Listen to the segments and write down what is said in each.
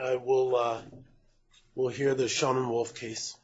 I will we'll hear the Schonewolf case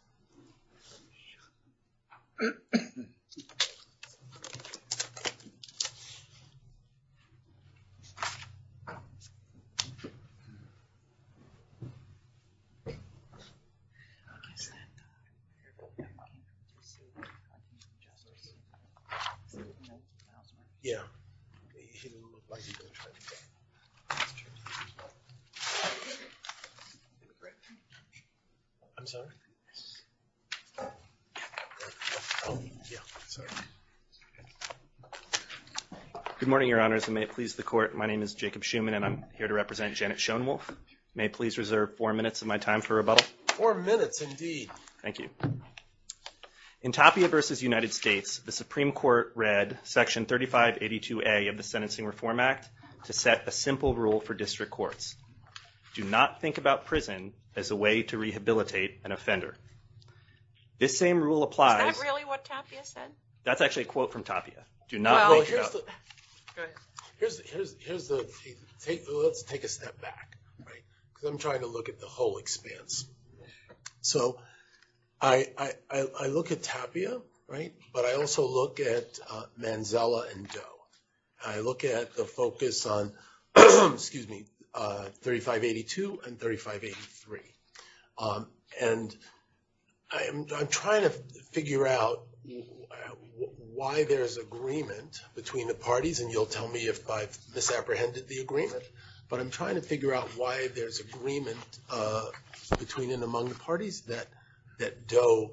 Good morning, your honors, and may it please the court, my name is Jacob Schuman and I'm here to represent Janet Schonewolf. May please reserve four minutes of my time for rebuttal. Four minutes indeed. Thank you. In Tapia v. United States, the Supreme Court read section 3582A of the Sentencing Reform Act to set a simple rule for district courts. Do not think about prison as a way to rehabilitate an offender. This same rule applies. Is that really what Tapia said? That's actually a quote from Tapia. Do not think about. Here's the, let's take a step back, right, because I'm trying to look at the whole expanse. So I look at Tapia, right, but I also look at Manzella and Doe. I look at the focus on, excuse me, 3582 and 3583. And I'm trying to figure out why there's agreement between the parties, and you'll tell me if I've misapprehended the agreement, but I'm trying to figure out why there's agreement between and among the parties that Doe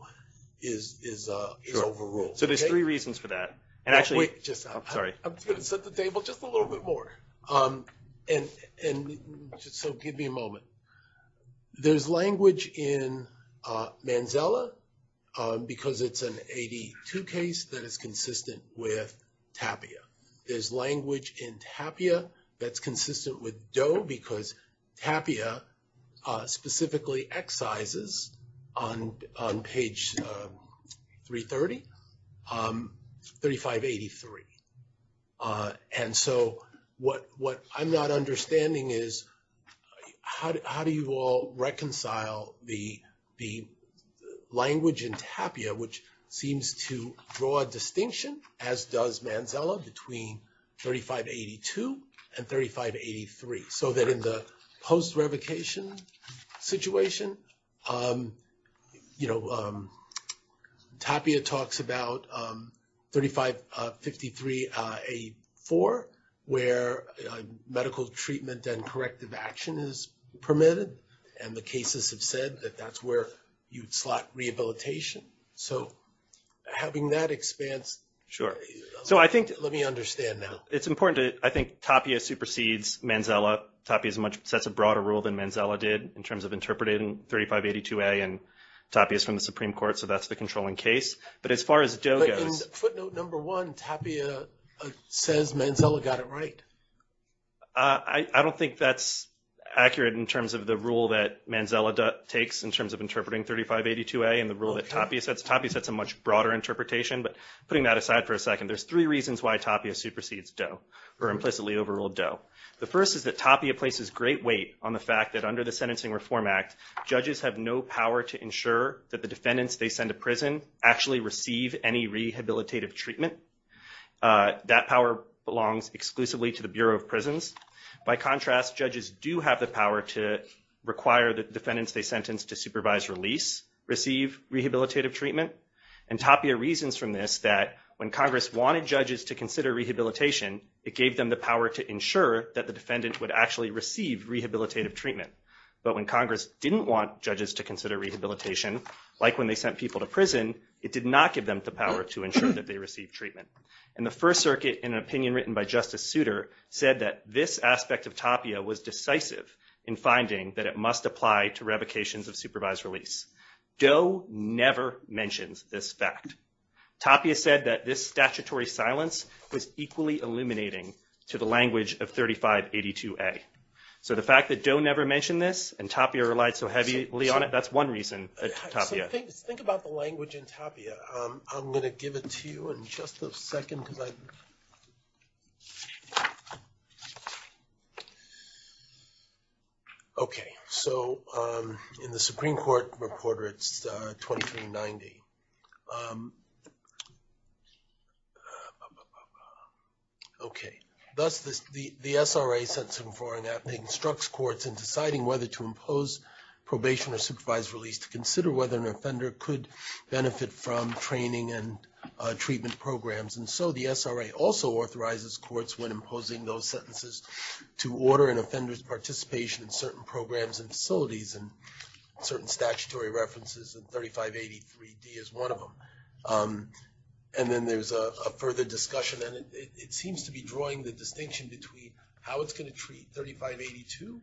is overruled. Sure. So there's three reasons for that. And actually- Wait, just, I'm going to set the table just a little bit more. And so give me a moment. There's language in Manzella because it's an AD2 case that is consistent with Tapia. There's language in Tapia that's consistent with Doe because Tapia specifically excises on page 330, 3583. And so what I'm not understanding is how do you all reconcile the language in Tapia, which seems to draw a distinction, as does Manzella, between 3582 and 3583. So that in the post-revocation situation, Tapia talks about 3553A4, where medical treatment and corrective action is permitted. And the cases have said that that's where you'd slot rehabilitation. So having that expanse- Sure. So I think- Let me understand now. It's important to, I think Tapia supersedes Manzella. Tapia sets a broader rule than Manzella did in terms of interpreting 3582A, and Tapia is from the Supreme Court, so that's the controlling case. But as far as Doe goes- Footnote number one, Tapia says Manzella got it right. I don't think that's accurate in terms of the rule that Manzella takes in terms of interpreting 3582A and the rule that Tapia sets. Tapia sets a much broader interpretation, but putting that aside for a second, there's three reasons why Tapia supersedes Doe, or implicitly overruled Doe. The first is that Tapia places great weight on the fact that under the Sentencing Reform Act, judges have no power to ensure that the defendants they send to prison actually receive any rehabilitative treatment. That power belongs exclusively to the Bureau of Prisons. By contrast, judges do have the power to require the defendants they sentence to supervise release receive rehabilitative treatment. And Tapia reasons from this that when Congress wanted judges to consider rehabilitation, it gave them the power to ensure that the defendant would actually receive rehabilitative treatment. But when Congress didn't want judges to consider rehabilitation, like when they sent people to prison, it did not give them the power to ensure that they receive treatment. And the First Circuit, in an opinion written by Justice Souter, said that this aspect of Tapia was decisive in finding that it must apply to revocations of supervised release. Doe never mentions this fact. Tapia said that this statutory silence was equally illuminating to the language of 3582A. So the fact that Doe never mentioned this, Tapia relied so heavily on it, that's one reason. Think about the language in Tapia. I'm going to give it to you in just a second. Okay, so in the Supreme Court reporter, it's 2390. Okay, thus the SRA sent some foreign app. They instructs courts in deciding whether to impose probation or supervised release to consider whether an offender could benefit from training and treatment programs. And so the SRA also authorizes courts when imposing those sentences to order an offender's participation in certain programs and facilities and certain statutory references, and 3583D is one of them. And then there's a further discussion, and it seems to be drawing the distinction between how it's going to treat 3582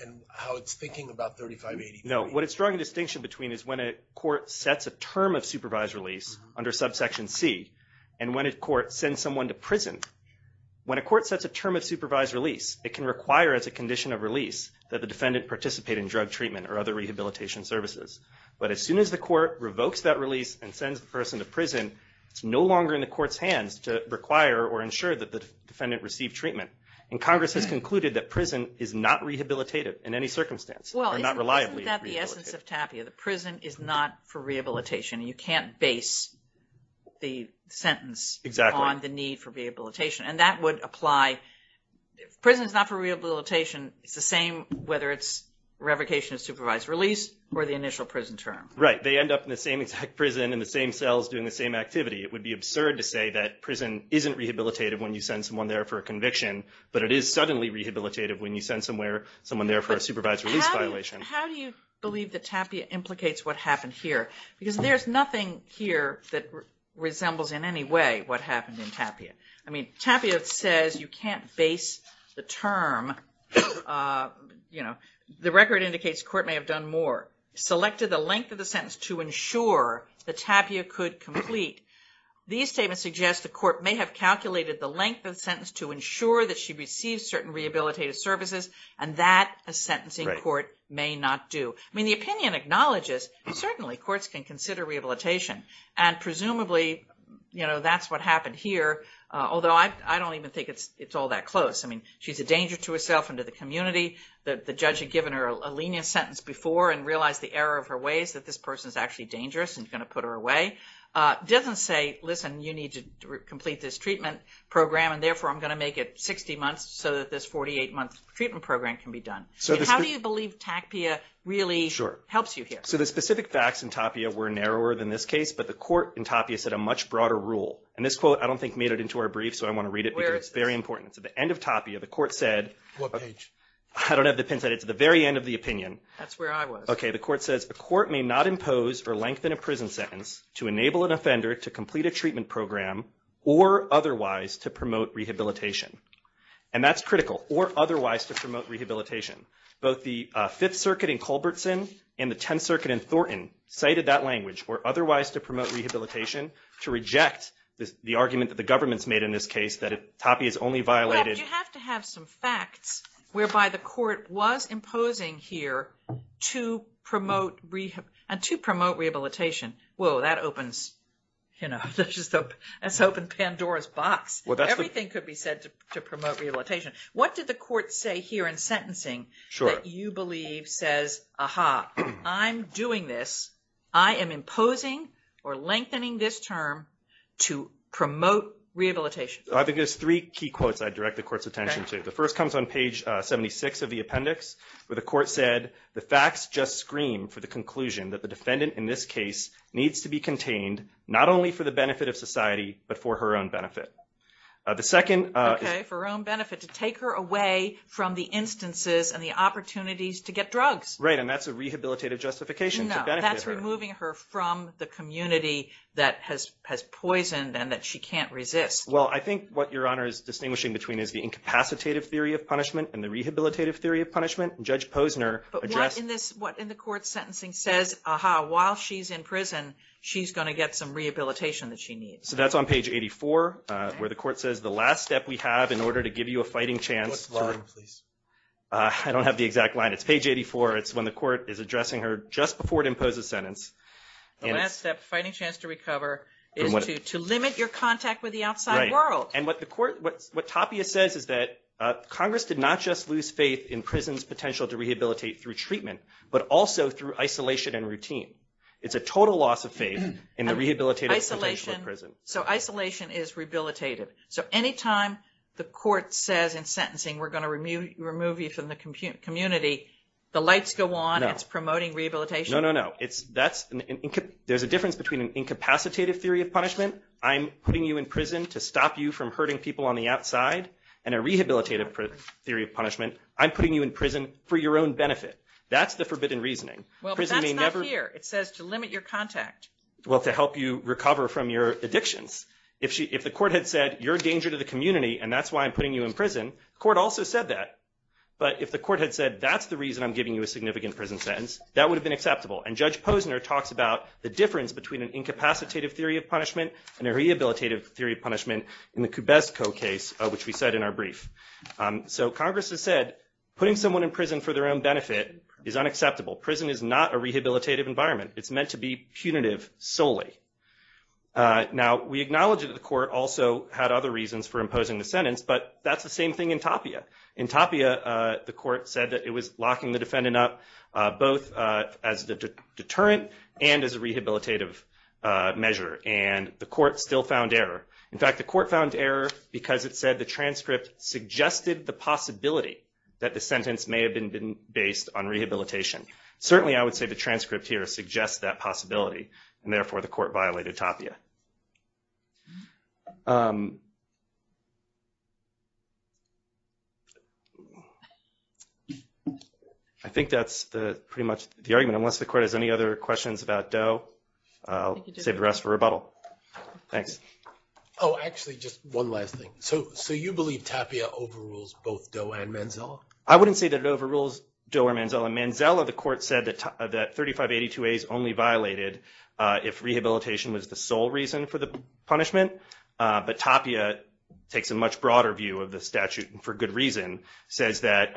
and how it's thinking about 3583. No, what it's drawing the distinction between is when a court sets a term of supervised release under subsection C and when a court sends someone to prison. When a court sets a term of supervised release, it can require as a condition of release that the defendant participate in drug treatment or other rehabilitation services. But as soon as the court revokes that release and sends the person to prison, it's no longer in the court's hands to require or ensure that the defendant received treatment. And Congress has concluded that prison is not rehabilitative in any circumstance. Well, isn't that the essence of TAPIA? The prison is not for rehabilitation. You can't base the sentence on the need for rehabilitation. And that would apply... Prison is not for rehabilitation. It's the same whether it's revocation of supervised release or the initial prison term. Right. They end up in the same exact prison in the same cells doing the same activity. It would be absurd to say that prison isn't rehabilitative when you send someone there for a conviction, but it is suddenly rehabilitative when you send someone there for a supervised release violation. But how do you believe that TAPIA implicates what happened here? Because there's nothing here that resembles in any way what happened in TAPIA. I mean, TAPIA says you can't base the term... The record indicates the court may have done more. Selected the length of the sentence to ensure that TAPIA could complete. These statements suggest the court may have calculated the length of the sentence to ensure that she receives certain rehabilitative services, and that a sentencing court may not do. I mean, the opinion acknowledges certainly courts can consider rehabilitation. And presumably, that's what happened here. Although I don't even think it's all that close. I mean, she's a danger to herself and to the community. The judge had given her a lenient sentence before and realized the error of her ways that this person is actually dangerous and going to put her away. Doesn't say, listen, you need to complete this treatment program, and therefore, I'm going to make it 60 months so that this 48-month treatment program can be done. So how do you believe TAPIA really helps you here? So the specific facts in TAPIA were narrower than this case, but the court in TAPIA set a much broader rule. And this quote, I don't think made it into our brief, so I want to read it. It's very important. It's at the end of TAPIA, the court said... What page? I don't have the pin set. It's at the very end of the opinion. That's where I was. The court says, a court may not impose or lengthen a prison sentence to enable an offender to complete a treatment program or otherwise to promote rehabilitation. And that's critical, or otherwise to promote rehabilitation. Both the Fifth Circuit in Culbertson and the Tenth Circuit in Thornton cited that language, or otherwise to promote rehabilitation, to reject the argument that the government's made in this case that TAPIA is only violated... And to promote rehabilitation. Whoa, that opens Pandora's box. Everything could be said to promote rehabilitation. What did the court say here in sentencing that you believe says, aha, I'm doing this, I am imposing or lengthening this term to promote rehabilitation? I think there's three key quotes I'd direct the court's attention to. The first comes on page 76 of the appendix, where the court said, the facts just scream for the conclusion that the defendant in this case needs to be contained, not only for the benefit of society, but for her own benefit. The second... Okay, for her own benefit, to take her away from the instances and the opportunities to get drugs. Right, and that's a rehabilitative justification to benefit her. No, that's removing her from the community that has poisoned and that she can't resist. Well, I think what Your Honor is referring to in the rehabilitative theory of punishment, Judge Posner... But what in the court's sentencing says, aha, while she's in prison, she's going to get some rehabilitation that she needs? So that's on page 84, where the court says, the last step we have in order to give you a fighting chance... What's the line, please? I don't have the exact line. It's page 84. It's when the court is addressing her just before it imposes sentence. The last step, fighting chance to recover, is to limit your contact with the outside world. What Tapia says is that Congress did not just lose faith in prison's potential to rehabilitate through treatment, but also through isolation and routine. It's a total loss of faith in the rehabilitative potential of prison. So isolation is rehabilitative. So anytime the court says in sentencing, we're going to remove you from the community, the lights go on, it's promoting rehabilitation? No, no, no. There's a difference between an incapacitative theory of punishment, I'm putting you in prison to stop you from hurting people on the outside, and a rehabilitative theory of punishment, I'm putting you in prison for your own benefit. That's the forbidden reasoning. Well, that's not here. It says to limit your contact. Well, to help you recover from your addictions. If the court had said, you're a danger to the community, and that's why I'm putting you in prison, the court also said that. But if the court had said, that's the reason I'm giving you a significant prison sentence, that would have been acceptable. And Judge Posner talks about the difference between an incapacitative theory of punishment and a rehabilitative theory of punishment in the Kubesko case, which we said in our brief. So Congress has said, putting someone in prison for their own benefit is unacceptable. Prison is not a rehabilitative environment. It's meant to be punitive solely. Now, we acknowledge that the court also had other reasons for imposing the sentence, but that's the same thing in Tapia. In Tapia, the court said that it was locking the defendant up, both as the deterrent and as a rehabilitative measure. And the court still found error. In fact, the court found error because it said the transcript suggested the possibility that the sentence may have been based on rehabilitation. Certainly, I would say the transcript here suggests that possibility. And therefore, the court violated Tapia. I think that's pretty much the argument. Unless the court has any other questions about Doe, I'll save the rest for rebuttal. Thanks. Oh, actually, just one last thing. So you believe Tapia overrules both Doe and Manzella? I wouldn't say that it overrules Doe or Manzella. In Manzella, the court said that 3582a is only reason for the punishment. But Tapia takes a much broader view of the statute, and for good reason, says that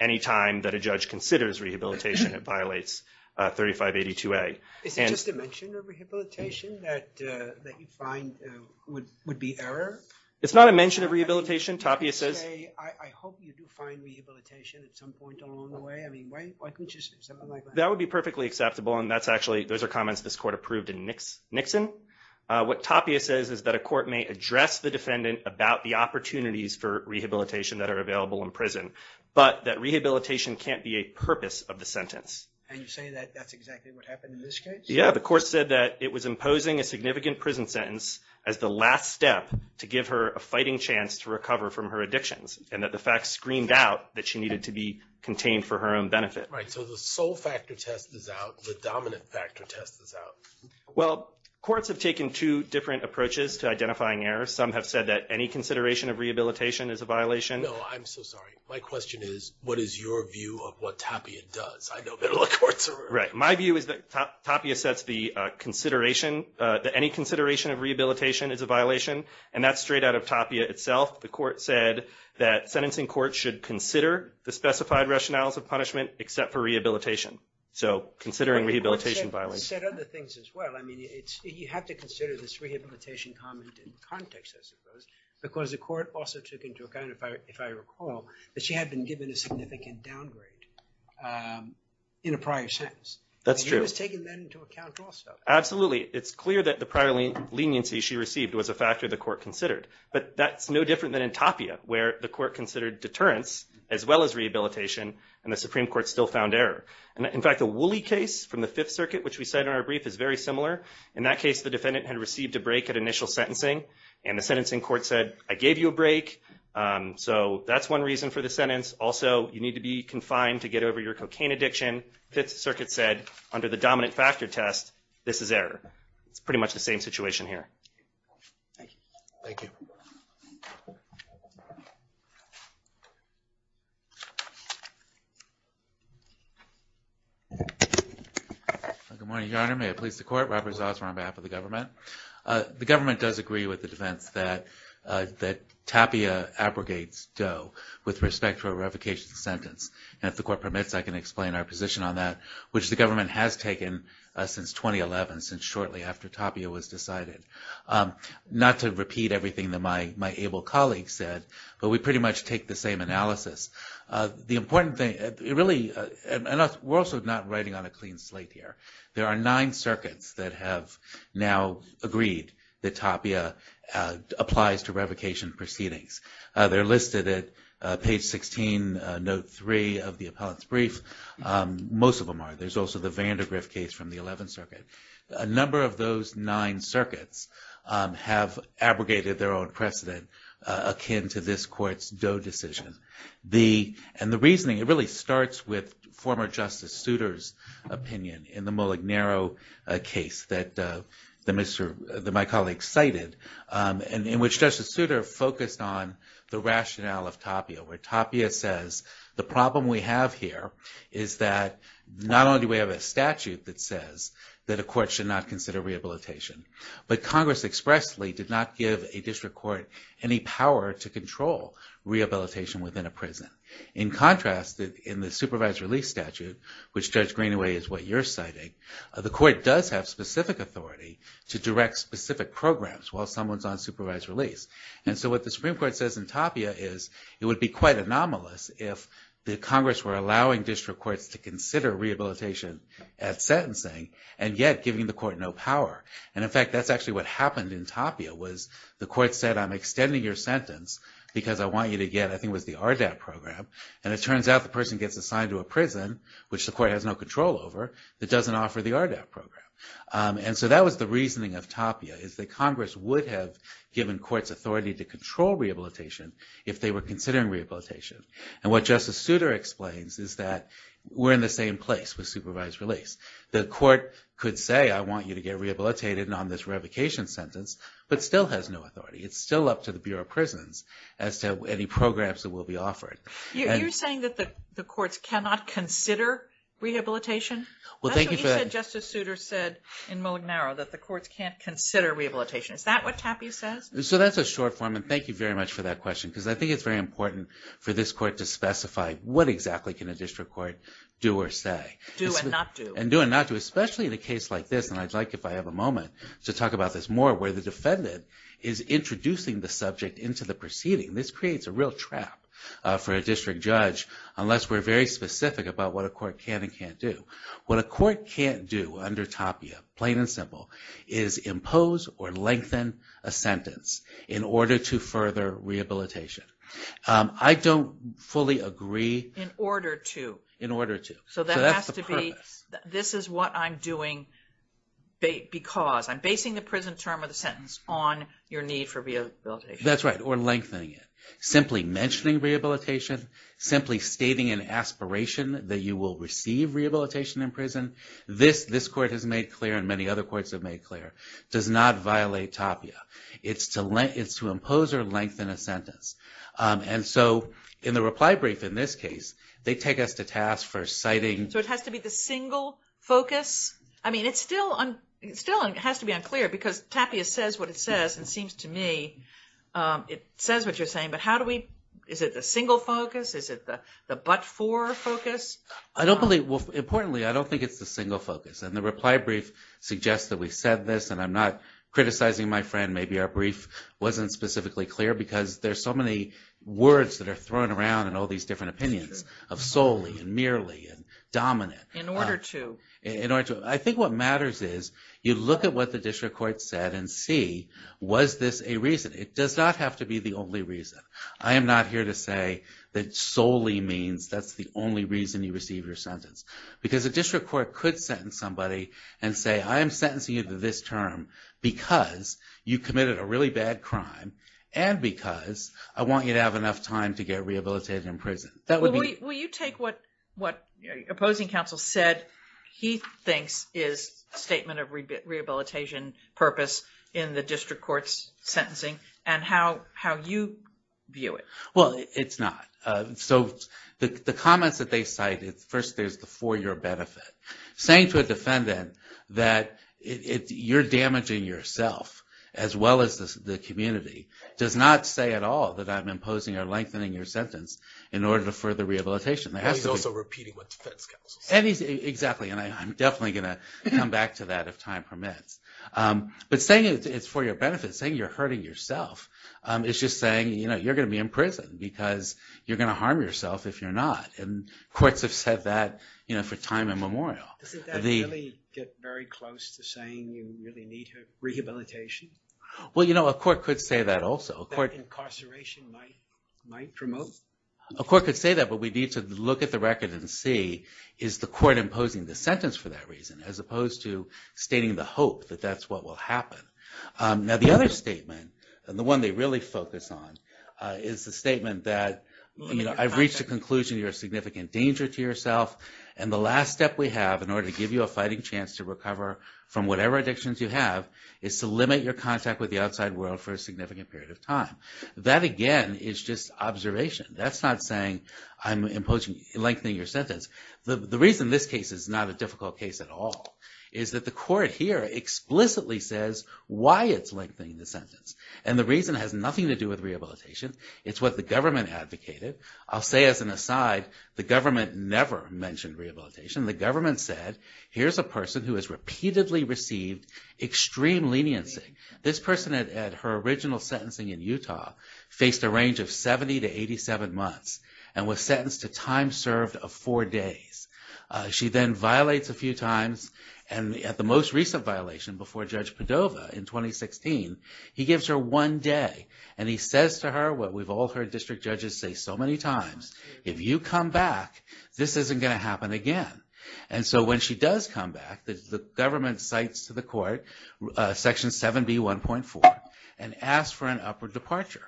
any time that a judge considers rehabilitation, it violates 3582a. Is it just a mention of rehabilitation that you find would be error? It's not a mention of rehabilitation. Tapia says— I hope you do find rehabilitation at some point along the way. I mean, why can't you say something What Tapia says is that a court may address the defendant about the opportunities for rehabilitation that are available in prison, but that rehabilitation can't be a purpose of the sentence. And you're saying that that's exactly what happened in this case? Yeah. The court said that it was imposing a significant prison sentence as the last step to give her a fighting chance to recover from her addictions, and that the fact screamed out that she needed to be contained for her own benefit. Right. So the sole factor test is out. The dominant factor test is out. Well, courts have taken two different approaches to identifying errors. Some have said that any consideration of rehabilitation is a violation. No, I'm so sorry. My question is, what is your view of what Tapia does? I know middle courts are— Right. My view is that Tapia sets the consideration, that any consideration of rehabilitation is a violation, and that's straight out of Tapia itself. The court said that sentencing courts should consider the specified rationales of punishment except for rehabilitation. So considering rehabilitation violates— She said other things as well. I mean, you have to consider this rehabilitation comment in context, I suppose, because the court also took into account, if I recall, that she had been given a significant downgrade in a prior sentence. That's true. And you was taking that into account also. Absolutely. It's clear that the prior leniency she received was a factor the court considered. But that's no different than in Tapia, where the court considered deterrence as well as rehabilitation, and the Supreme Court still found error. In fact, the Woolley case from the Fifth Circuit, which we cite in our brief, is very similar. In that case, the defendant had received a break at initial sentencing, and the sentencing court said, I gave you a break, so that's one reason for the sentence. Also, you need to be confined to get over your cocaine addiction. Fifth Circuit said, under the dominant factor test, this is error. It's pretty much the same situation here. Thank you. Thank you. Good morning, Your Honor. May it please the court, Robert Zosmar on behalf of the government. The government does agree with the defense that Tapia abrogates Doe with respect to a revocation sentence. And if the court permits, I can explain our position on that, which the government has taken since 2011, since shortly after Tapia was decided. Not to repeat everything that my able colleague said, but we pretty much take the same analysis. The important thing, really, and we're also not writing on a clean slate here. There are nine circuits that have now agreed that Tapia applies to revocation proceedings. They're listed at page 16, note 3 of the appellant's brief. Most of them are. There's also the Vandergriff case from the Eleventh Circuit. A number of those nine circuits have abrogated their own precedent akin to this court's Doe decision. And the reasoning, it really starts with former Justice Souter's opinion in the Mullig Narrow case that my colleague cited, in which Justice Souter focused on the rationale of Tapia, where Tapia says the problem we have here is that not only do we have a statute that says that a court should not consider rehabilitation, but Congress expressly did not give a district court any power to control rehabilitation within a prison. In contrast, in the supervised release statute, which Judge Greenaway is what you're citing, the court does have specific authority to direct specific programs while someone's on supervised release. And so what the Supreme Court says in Tapia is it would be quite anomalous if the Congress were allowing district courts to consider rehabilitation at sentencing and yet giving the court no power. And in fact, that's why I'm extending your sentence, because I want you to get, I think it was the RDAP program, and it turns out the person gets assigned to a prison, which the court has no control over, that doesn't offer the RDAP program. And so that was the reasoning of Tapia, is that Congress would have given courts authority to control rehabilitation if they were considering rehabilitation. And what Justice Souter explains is that we're in the same place with supervised release. The court could say I want you to get up to the Bureau of Prisons as to any programs that will be offered. You're saying that the courts cannot consider rehabilitation? That's what you said Justice Souter said in Mode Narrow, that the courts can't consider rehabilitation. Is that what Tapia says? So that's a short form, and thank you very much for that question, because I think it's very important for this court to specify what exactly can a district court do or say. Do and not do. And do and not do, especially in a case like this, and I'd into the proceeding. This creates a real trap for a district judge, unless we're very specific about what a court can and can't do. What a court can't do under Tapia, plain and simple, is impose or lengthen a sentence in order to further rehabilitation. I don't fully agree. In order to. In order to. So that has to be, this is what I'm doing because I'm basing the prison term of the That's right, or lengthening it. Simply mentioning rehabilitation, simply stating an aspiration that you will receive rehabilitation in prison. This court has made clear, and many other courts have made clear, does not violate Tapia. It's to impose or lengthen a sentence. And so in the reply brief in this case, they take us to task for citing. So it has to be the single focus? I mean it's still has to be unclear because Tapia says what it says. It seems to me it says what you're saying, but how do we, is it the single focus? Is it the but-for focus? I don't believe, well importantly, I don't think it's the single focus. And the reply brief suggests that we said this, and I'm not criticizing my friend. Maybe our brief wasn't specifically clear because there's so many words that are thrown around and all these different opinions of solely and merely and dominant. In order to. I think what matters is you look at what the district court said and see was this a reason. It does not have to be the only reason. I am not here to say that solely means that's the only reason you receive your sentence. Because a district court could sentence somebody and say I am sentencing you to this term because you committed a really bad crime and because I want you to have enough time to get rehabilitated in prison. That would be. Will you take what what opposing counsel said he thinks is statement of rehabilitation purpose in the district court's sentencing and how you view it? Well it's not. So the comments that they cite, first there's the for your benefit. Saying to a defendant that you're damaging yourself as well as the community does not say at all that I'm imposing or lengthening your sentence in order to further rehabilitation. And he's also repeating what defense counsel said. Exactly and I'm definitely going to come back to that if time permits. But saying it's for your benefit, saying you're hurting yourself is just saying you know you're going to be in prison because you're going to harm yourself if you're not. And courts have said that you know for time immemorial. Doesn't that get very close to saying you really need rehabilitation? Well you know a court could say that also. That incarceration might promote? A court could say that but we need to look at the record and see is the court imposing the sentence for that reason as opposed to stating the hope that that's what will happen. Now the other statement and the one they really focus on is the statement that you know I've reached a conclusion you're a significant danger to yourself and the last step we have in order to give you a fighting chance to recover from whatever addictions you have is to limit your contact with the outside world for a significant period of time. That again is just observation. That's not saying I'm imposing lengthening your sentence. The reason this case is not a difficult case at all is that the court here explicitly says why it's lengthening the sentence. And the reason has nothing to do with rehabilitation. It's what the government advocated. I'll say as an aside the government never mentioned rehabilitation. The government said here's a person who has repeatedly received extreme leniency. This person at her original sentencing in Utah faced a range of 70 to 87 months and was sentenced to time served of four days. She then violates a few times and at the most recent violation before Judge Padova in 2016 he gives her one day and he says to her what we've all heard district judges say so many times if you come back this isn't going to happen again. And so when she does come back the government cites to the court section 7b 1.4 and asks for an upward departure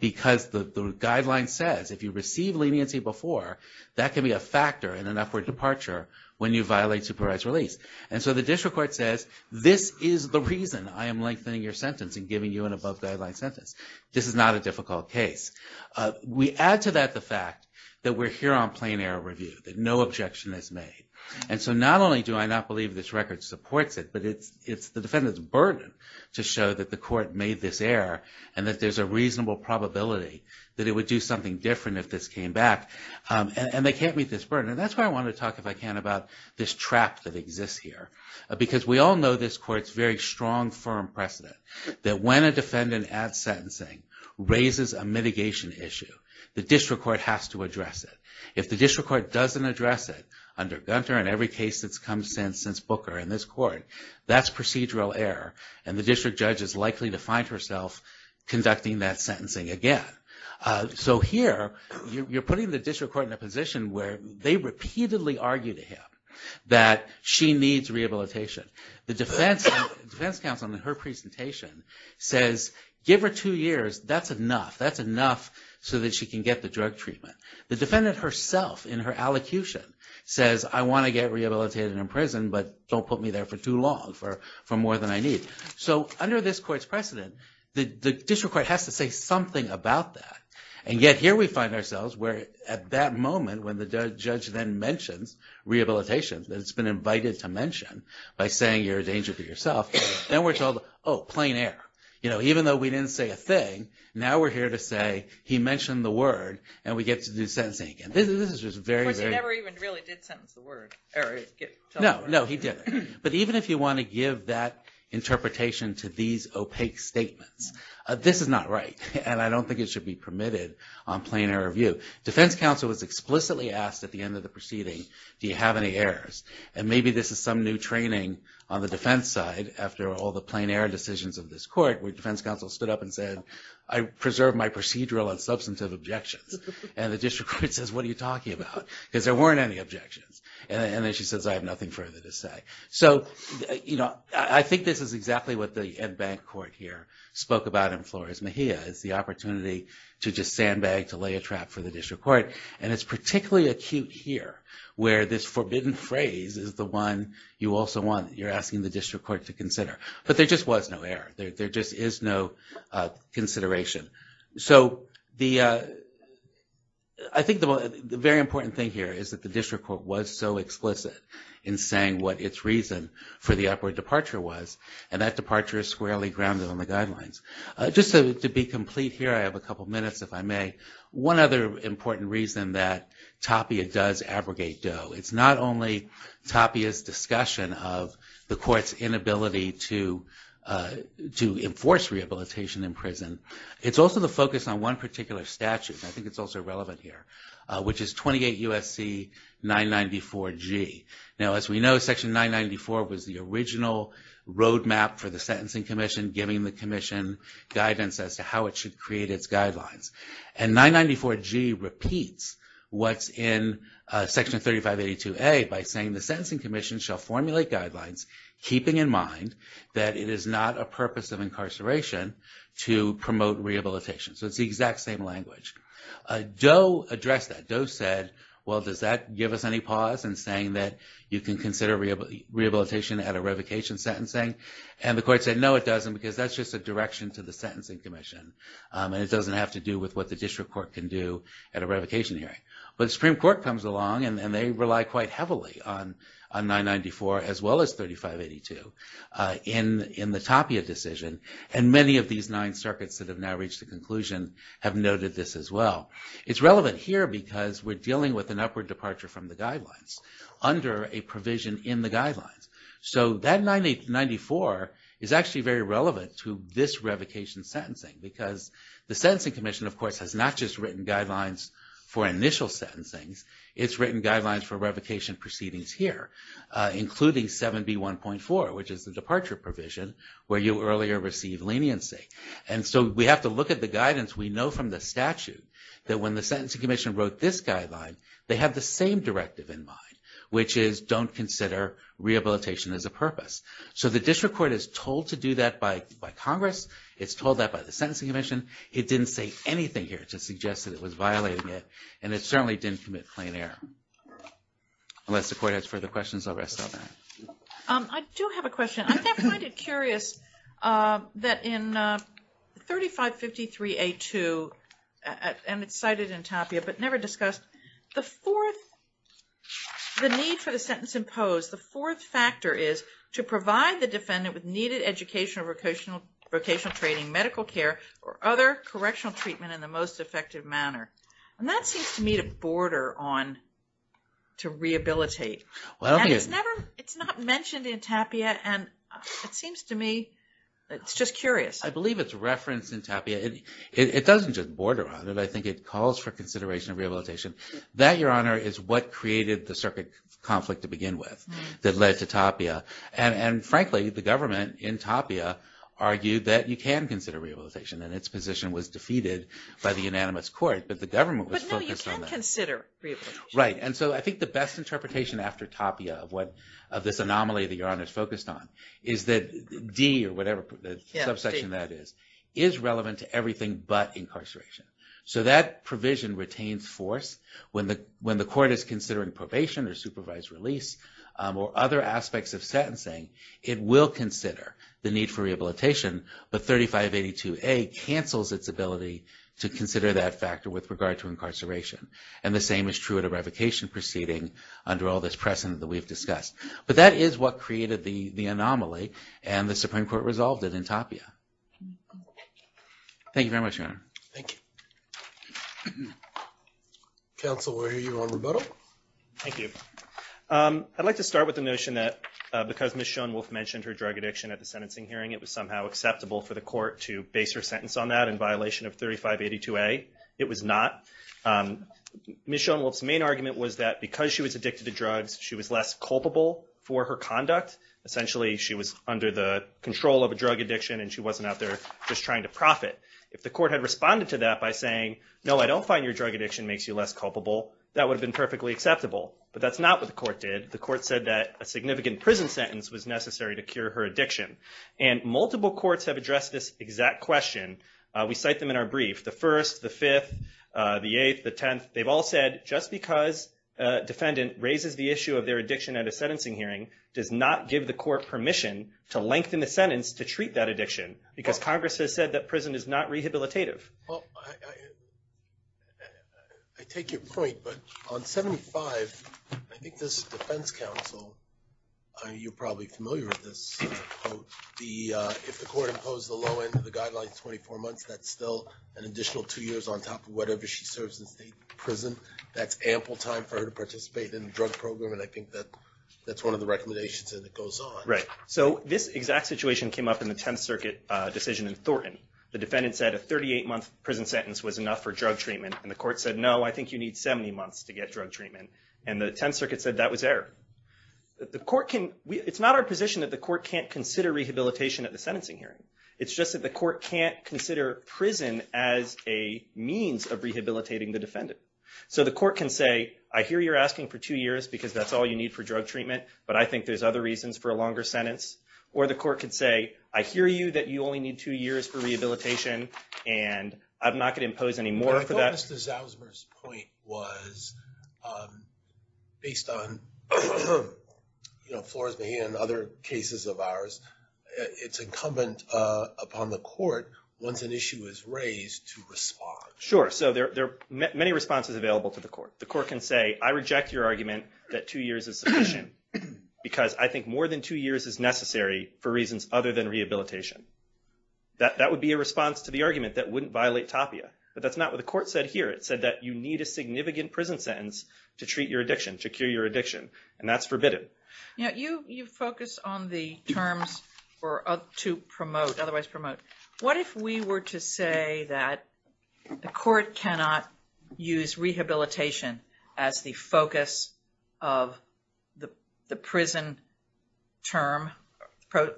because the guideline says if you receive leniency before that can be a factor in an upward departure when you violate supervised release. And so the district court says this is the reason I am lengthening your sentence and giving you an above guideline sentence. This is not a difficult case. We add to that the fact that we're here on plain error review that no objection is made and so not only do I not believe this record supports it but it's the defendant's burden to show that the court made this error and that there's a reasonable probability that it would do something different if this came back and they can't meet this burden. And that's why I want to talk if I can about this trap that exists here because we all know this court's very strong firm precedent that when a defendant adds sentencing raises a mitigation issue the district court has to address it. If the district court doesn't address it under Gunter and every case that's come since since Booker in this court that's procedural error and the district judge is likely to find herself conducting that sentencing again. So here you're putting the district court in a position where they repeatedly argue to him that she needs rehabilitation. The defense counsel in her presentation says give her two years that's enough that's enough so that she can get the drug treatment. The defendant herself in her allocution says I want to get rehabilitated in prison but don't put me there for too long for more than I need. So under this court's precedent the district court has to say something about that and yet here we find ourselves where at that moment when the judge then mentions rehabilitation that it's been invited to mention by saying you're a danger to oh plain error. You know even though we didn't say a thing now we're here to say he mentioned the word and we get to do sentencing again. This is just very very never even really did sentence the word or no no he didn't but even if you want to give that interpretation to these opaque statements this is not right and I don't think it should be permitted on plain error view. Defense counsel was explicitly asked at the end of the proceeding do you have any errors and maybe this is some new training on the defense side after all the plain error decisions of this court where defense counsel stood up and said I preserve my procedural and substantive objections and the district court says what are you talking about because there weren't any objections and then she says I have nothing further to say. So you know I think this is exactly what the Ed Bank court here spoke about in Flores Mejia is the opportunity to just sandbag to lay a trap for the district court and it's forbidden phrase is the one you also want you're asking the district court to consider but there just was no error there just is no consideration. So the I think the very important thing here is that the district court was so explicit in saying what its reason for the upward departure was and that departure is squarely grounded on the guidelines. Just to be complete here I have a only tapas discussion of the court's inability to to enforce rehabilitation in prison it's also the focus on one particular statute I think it's also relevant here which is 28 U.S.C. 994 G. Now as we know section 994 was the original road map for the sentencing commission giving the commission guidance as to how it should create its guidelines and 994 G repeats what's in section 3582 A by saying the sentencing commission shall formulate guidelines keeping in mind that it is not a purpose of incarceration to promote rehabilitation. So it's the exact same language. Doe addressed that. Doe said well does that give us any pause in saying that you can consider rehabilitation at a revocation sentencing? And the court said no it doesn't because that's just a direction to the sentencing commission and it doesn't have to do with what the district court can do at a revocation hearing. But the Supreme Court comes along and they rely quite heavily on 994 as well as 3582 in the Tapia decision and many of these nine circuits that have now reached the conclusion have noted this as well. It's relevant here because we're dealing with an upward departure from the guidelines under a provision in the guidelines. So that 994 is actually very relevant to this revocation sentencing because the sentencing commission of course has not just written guidelines for initial sentencings, it's written guidelines for revocation proceedings here including 7B1.4 which is the departure provision where you earlier received leniency. And so we have to look at the guidance we know from the statute that when the sentencing commission wrote this guideline they have the same directive in mind which is don't consider rehabilitation as a purpose. So the district court is told to do that by Congress, it's told that by the sentencing commission, it didn't say anything here to suggest that it was violating it and it certainly didn't commit plain error. Unless the court has further questions I'll rest on that. I do have a question. I find it curious that in 3553A2 and it's cited in TAPIA but never discussed, the fourth the need for the sentence imposed, the fourth factor is to provide the defendant with needed educational vocational training, medical care or other correctional treatment in the most effective manner. And that seems to me to border on to rehabilitate. And it's never, it's not mentioned in TAPIA and it seems to me it's just curious. I believe it's referenced in TAPIA. It doesn't just border on it. I think it calls for consideration of rehabilitation. That your honor is what created the circuit conflict to begin with that led to TAPIA. And frankly the government in TAPIA argued that you can consider rehabilitation and its position was defeated by the unanimous court but the government was focused on that. But no you can consider rehabilitation. Right and so I think the best interpretation after TAPIA of what this anomaly that your honor is focused on is that D or whatever the subsection that is, is relevant to everything but incarceration. So that provision retains force when the court is considering probation or supervised release or other aspects of sentencing. It will consider the need for rehabilitation but 3582A cancels its ability to consider that factor with regard to incarceration. And the same is true at a revocation proceeding under all this precedent that we've discussed. But that is what created the anomaly and the Supreme Court resolved it in TAPIA. Thank you very much your honor. Thank you. Counsel we'll hear you on rebuttal. Thank you. I'd like to start with the notion that because Ms. Schoenwolf mentioned her drug addiction at the sentencing hearing it was somehow acceptable for the court to base her sentence on that in violation of 3582A. It was not. Ms. Schoenwolf's main argument was that because she was addicted to drugs she was less culpable for her conduct. Essentially she was under the control of a drug addiction and she wasn't out there just trying to profit. If the court had responded to that by saying no I don't find your drug addiction makes you less culpable that would have been perfectly acceptable. But that's not what the court did. The court said that a significant prison sentence was necessary to cure her addiction. And multiple courts have addressed this exact question. We cite them in our brief. The first, the fifth, the eighth, the defendant raises the issue of their addiction at a sentencing hearing does not give the court permission to lengthen the sentence to treat that addiction because Congress has said that prison is not rehabilitative. Well I take your point but on 75 I think this defense counsel, you're probably familiar with this, the if the court imposed the low end of the guidelines 24 months that's still an additional two years on top of whatever she serves in state prison. That's ample time for her to participate in a drug program and I think that that's one of the recommendations and it goes on. Right so this exact situation came up in the 10th circuit decision in Thornton. The defendant said a 38 month prison sentence was enough for drug treatment and the court said no I think you need 70 months to get drug treatment and the 10th circuit said that was error. The court can, it's not our position that the court can't consider rehabilitation at the sentencing hearing. It's just that the court can't consider prison as a means of rehabilitating the defendant. So the court can say I hear you're asking for two years because that's all you need for drug treatment but I think there's other reasons for a longer sentence or the court could say I hear you that you only need two years for rehabilitation and I'm not going to impose any more for that. I thought Mr. Zausmer's point was based on you know Flores-Mahin and other cases of ours it's incumbent upon the court once an issue is raised to respond. Sure so there are many responses available to the court. The court can say I reject your argument that two years is sufficient because I think more than two years is necessary for reasons other than rehabilitation. That would be a response to the argument that wouldn't violate TAPIA but that's not what the court said here. It said that you need a significant prison sentence to treat your addiction to cure your addiction and that's forbidden. You know you focus on the terms or to promote otherwise promote. What if we were to say that the court cannot use rehabilitation as the focus of the prison term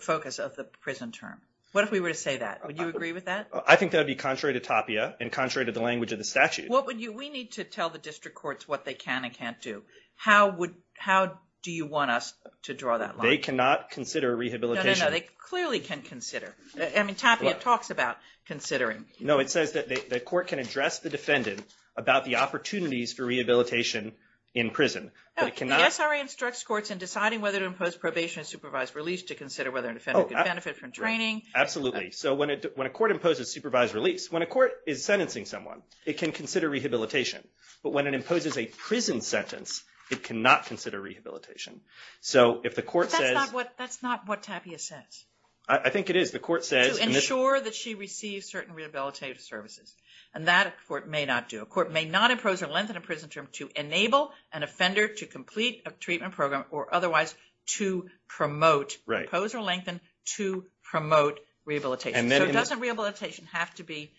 focus of the prison term? What if we were to say that? Would you agree with that? I think that would be contrary to TAPIA and contrary to the language of the statute. What would you we need to tell the district courts what they can and can't do? How would how do you want us to draw that line? They cannot consider rehabilitation. They clearly can consider I mean TAPIA talks about considering. No it says that the court can address the defendant about the opportunities for rehabilitation in prison. The SRA instructs courts in deciding whether to impose probation supervised release to consider whether an offender could benefit from training. Absolutely so when it when a court imposes supervised release when a court is sentencing someone it can consider rehabilitation but when it imposes a prison sentence it cannot consider rehabilitation. So if the court says what that's not what TAPIA says. I think it is the court says ensure that she receives certain rehabilitative services and that court may not do a court may not impose or lengthen a prison term to enable an offender to complete a treatment program or otherwise to promote right pose or lengthen to promote rehabilitation. So doesn't rehabilitation have to be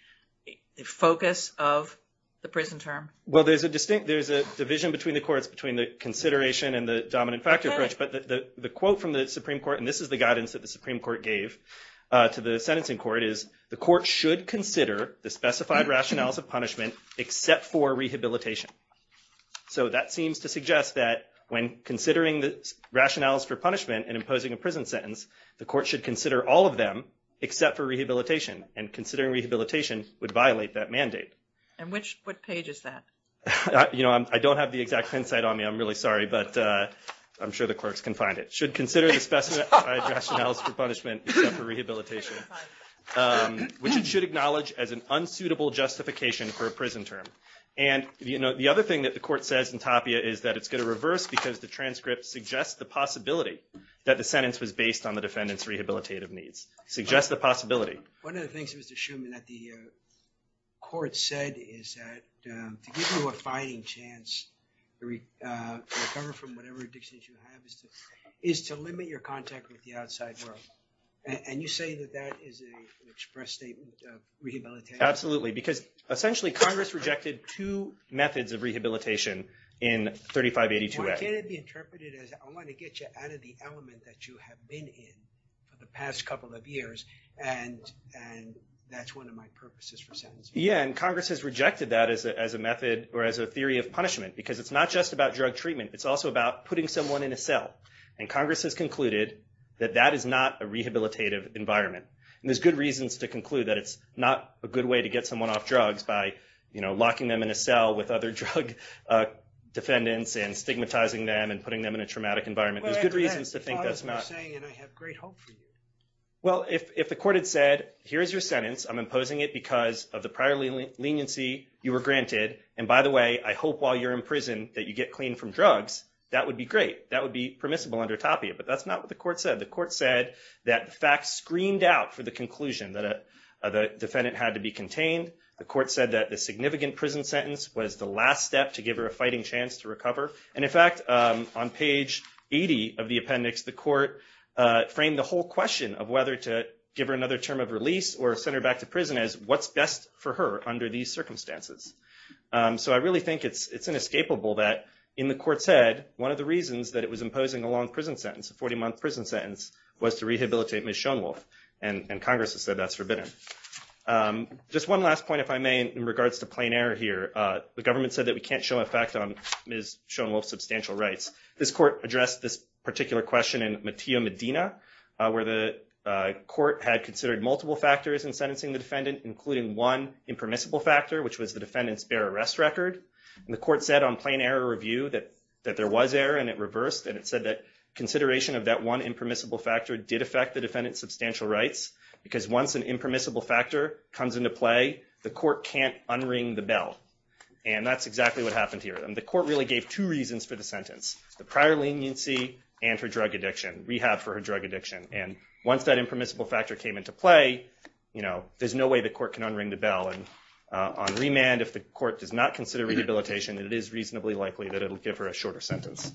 the focus of the prison term? Well there's a distinct there's a division between the courts between the consideration and the dominant factor approach but the the quote from the Supreme Court and this is the guidance that the Supreme Court gave to the sentencing court is the court should consider the specified rationales of punishment except for rehabilitation. So that seems to suggest that when considering the rationales for punishment and imposing a prison sentence the court should consider all of them except for rehabilitation and considering rehabilitation would violate that mandate. And which what page is that? You know I don't have the exact insight on me I'm really sorry but I'm sure the clerks can find it. Should consider the specified rationales for punishment except for rehabilitation which it should acknowledge as an unsuitable justification for a prison term. And you know the other thing that the court says in TAPIA is that it's going to reverse because the transcript suggests the possibility that the sentence was based on the defendant's rehabilitative needs. Suggests the possibility. One of the things Mr. Shuman that the court said is that to give you a fighting chance to recover from whatever addictions you have is to is to limit your contact with the outside world and you say that that is a express statement of rehabilitation? Absolutely because essentially Congress rejected two methods of rehabilitation in 3582a. Why can't it be interpreted as I want to get you out of the element that you have been in for the past couple of years and and that's one of my purposes for sentencing. Yeah and Congress has rejected that as a method or as a theory of punishment because it's not just about drug treatment it's also about putting someone in a cell and Congress has concluded that that is not a rehabilitative environment. And there's good reasons to conclude that it's not a good way to get someone off drugs by you know locking them in a cell with other drug defendants and stigmatizing them and putting them in a traumatic environment. There's good reasons to think that's not saying and I have great hope for you. Well if if the court had said here's your sentence I'm imposing it because of the prior leniency you were granted and by the way I hope while you're in prison that you get clean from drugs that would be great that would be permissible under TAPIA but that's not what the court said. The court said that the facts screened out for the conclusion that a the defendant had to be contained. The court said that the significant prison sentence was the last to give her a fighting chance to recover and in fact on page 80 of the appendix the court framed the whole question of whether to give her another term of release or send her back to prison as what's best for her under these circumstances. So I really think it's it's inescapable that in the court said one of the reasons that it was imposing a long prison sentence a 40-month prison sentence was to rehabilitate Ms. Schoenwulf and Congress has said that's forbidden. Just one last point if I may in regards to plain error here. The government said that we can't show effect on Ms. Schoenwulf's substantial rights. This court addressed this particular question in Matteo Medina where the court had considered multiple factors in sentencing the defendant including one impermissible factor which was the defendant's bare arrest record and the court said on plain error review that that there was error and it reversed and it said that consideration of that one impermissible factor did affect the defendant's substantial rights because once an impermissible factor comes into play the court can't unring the bell and that's exactly what happened here and the court really gave two reasons for the sentence. The prior leniency and her drug addiction rehab for her drug addiction and once that impermissible factor came into play you know there's no way the court can unring the bell and on remand if the court does not consider rehabilitation it is reasonably likely that it'll give her a shorter sentence.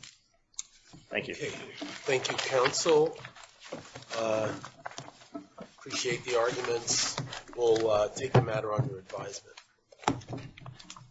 Thank you. Thank you counsel. Appreciate the arguments. We'll take the matter under advisement.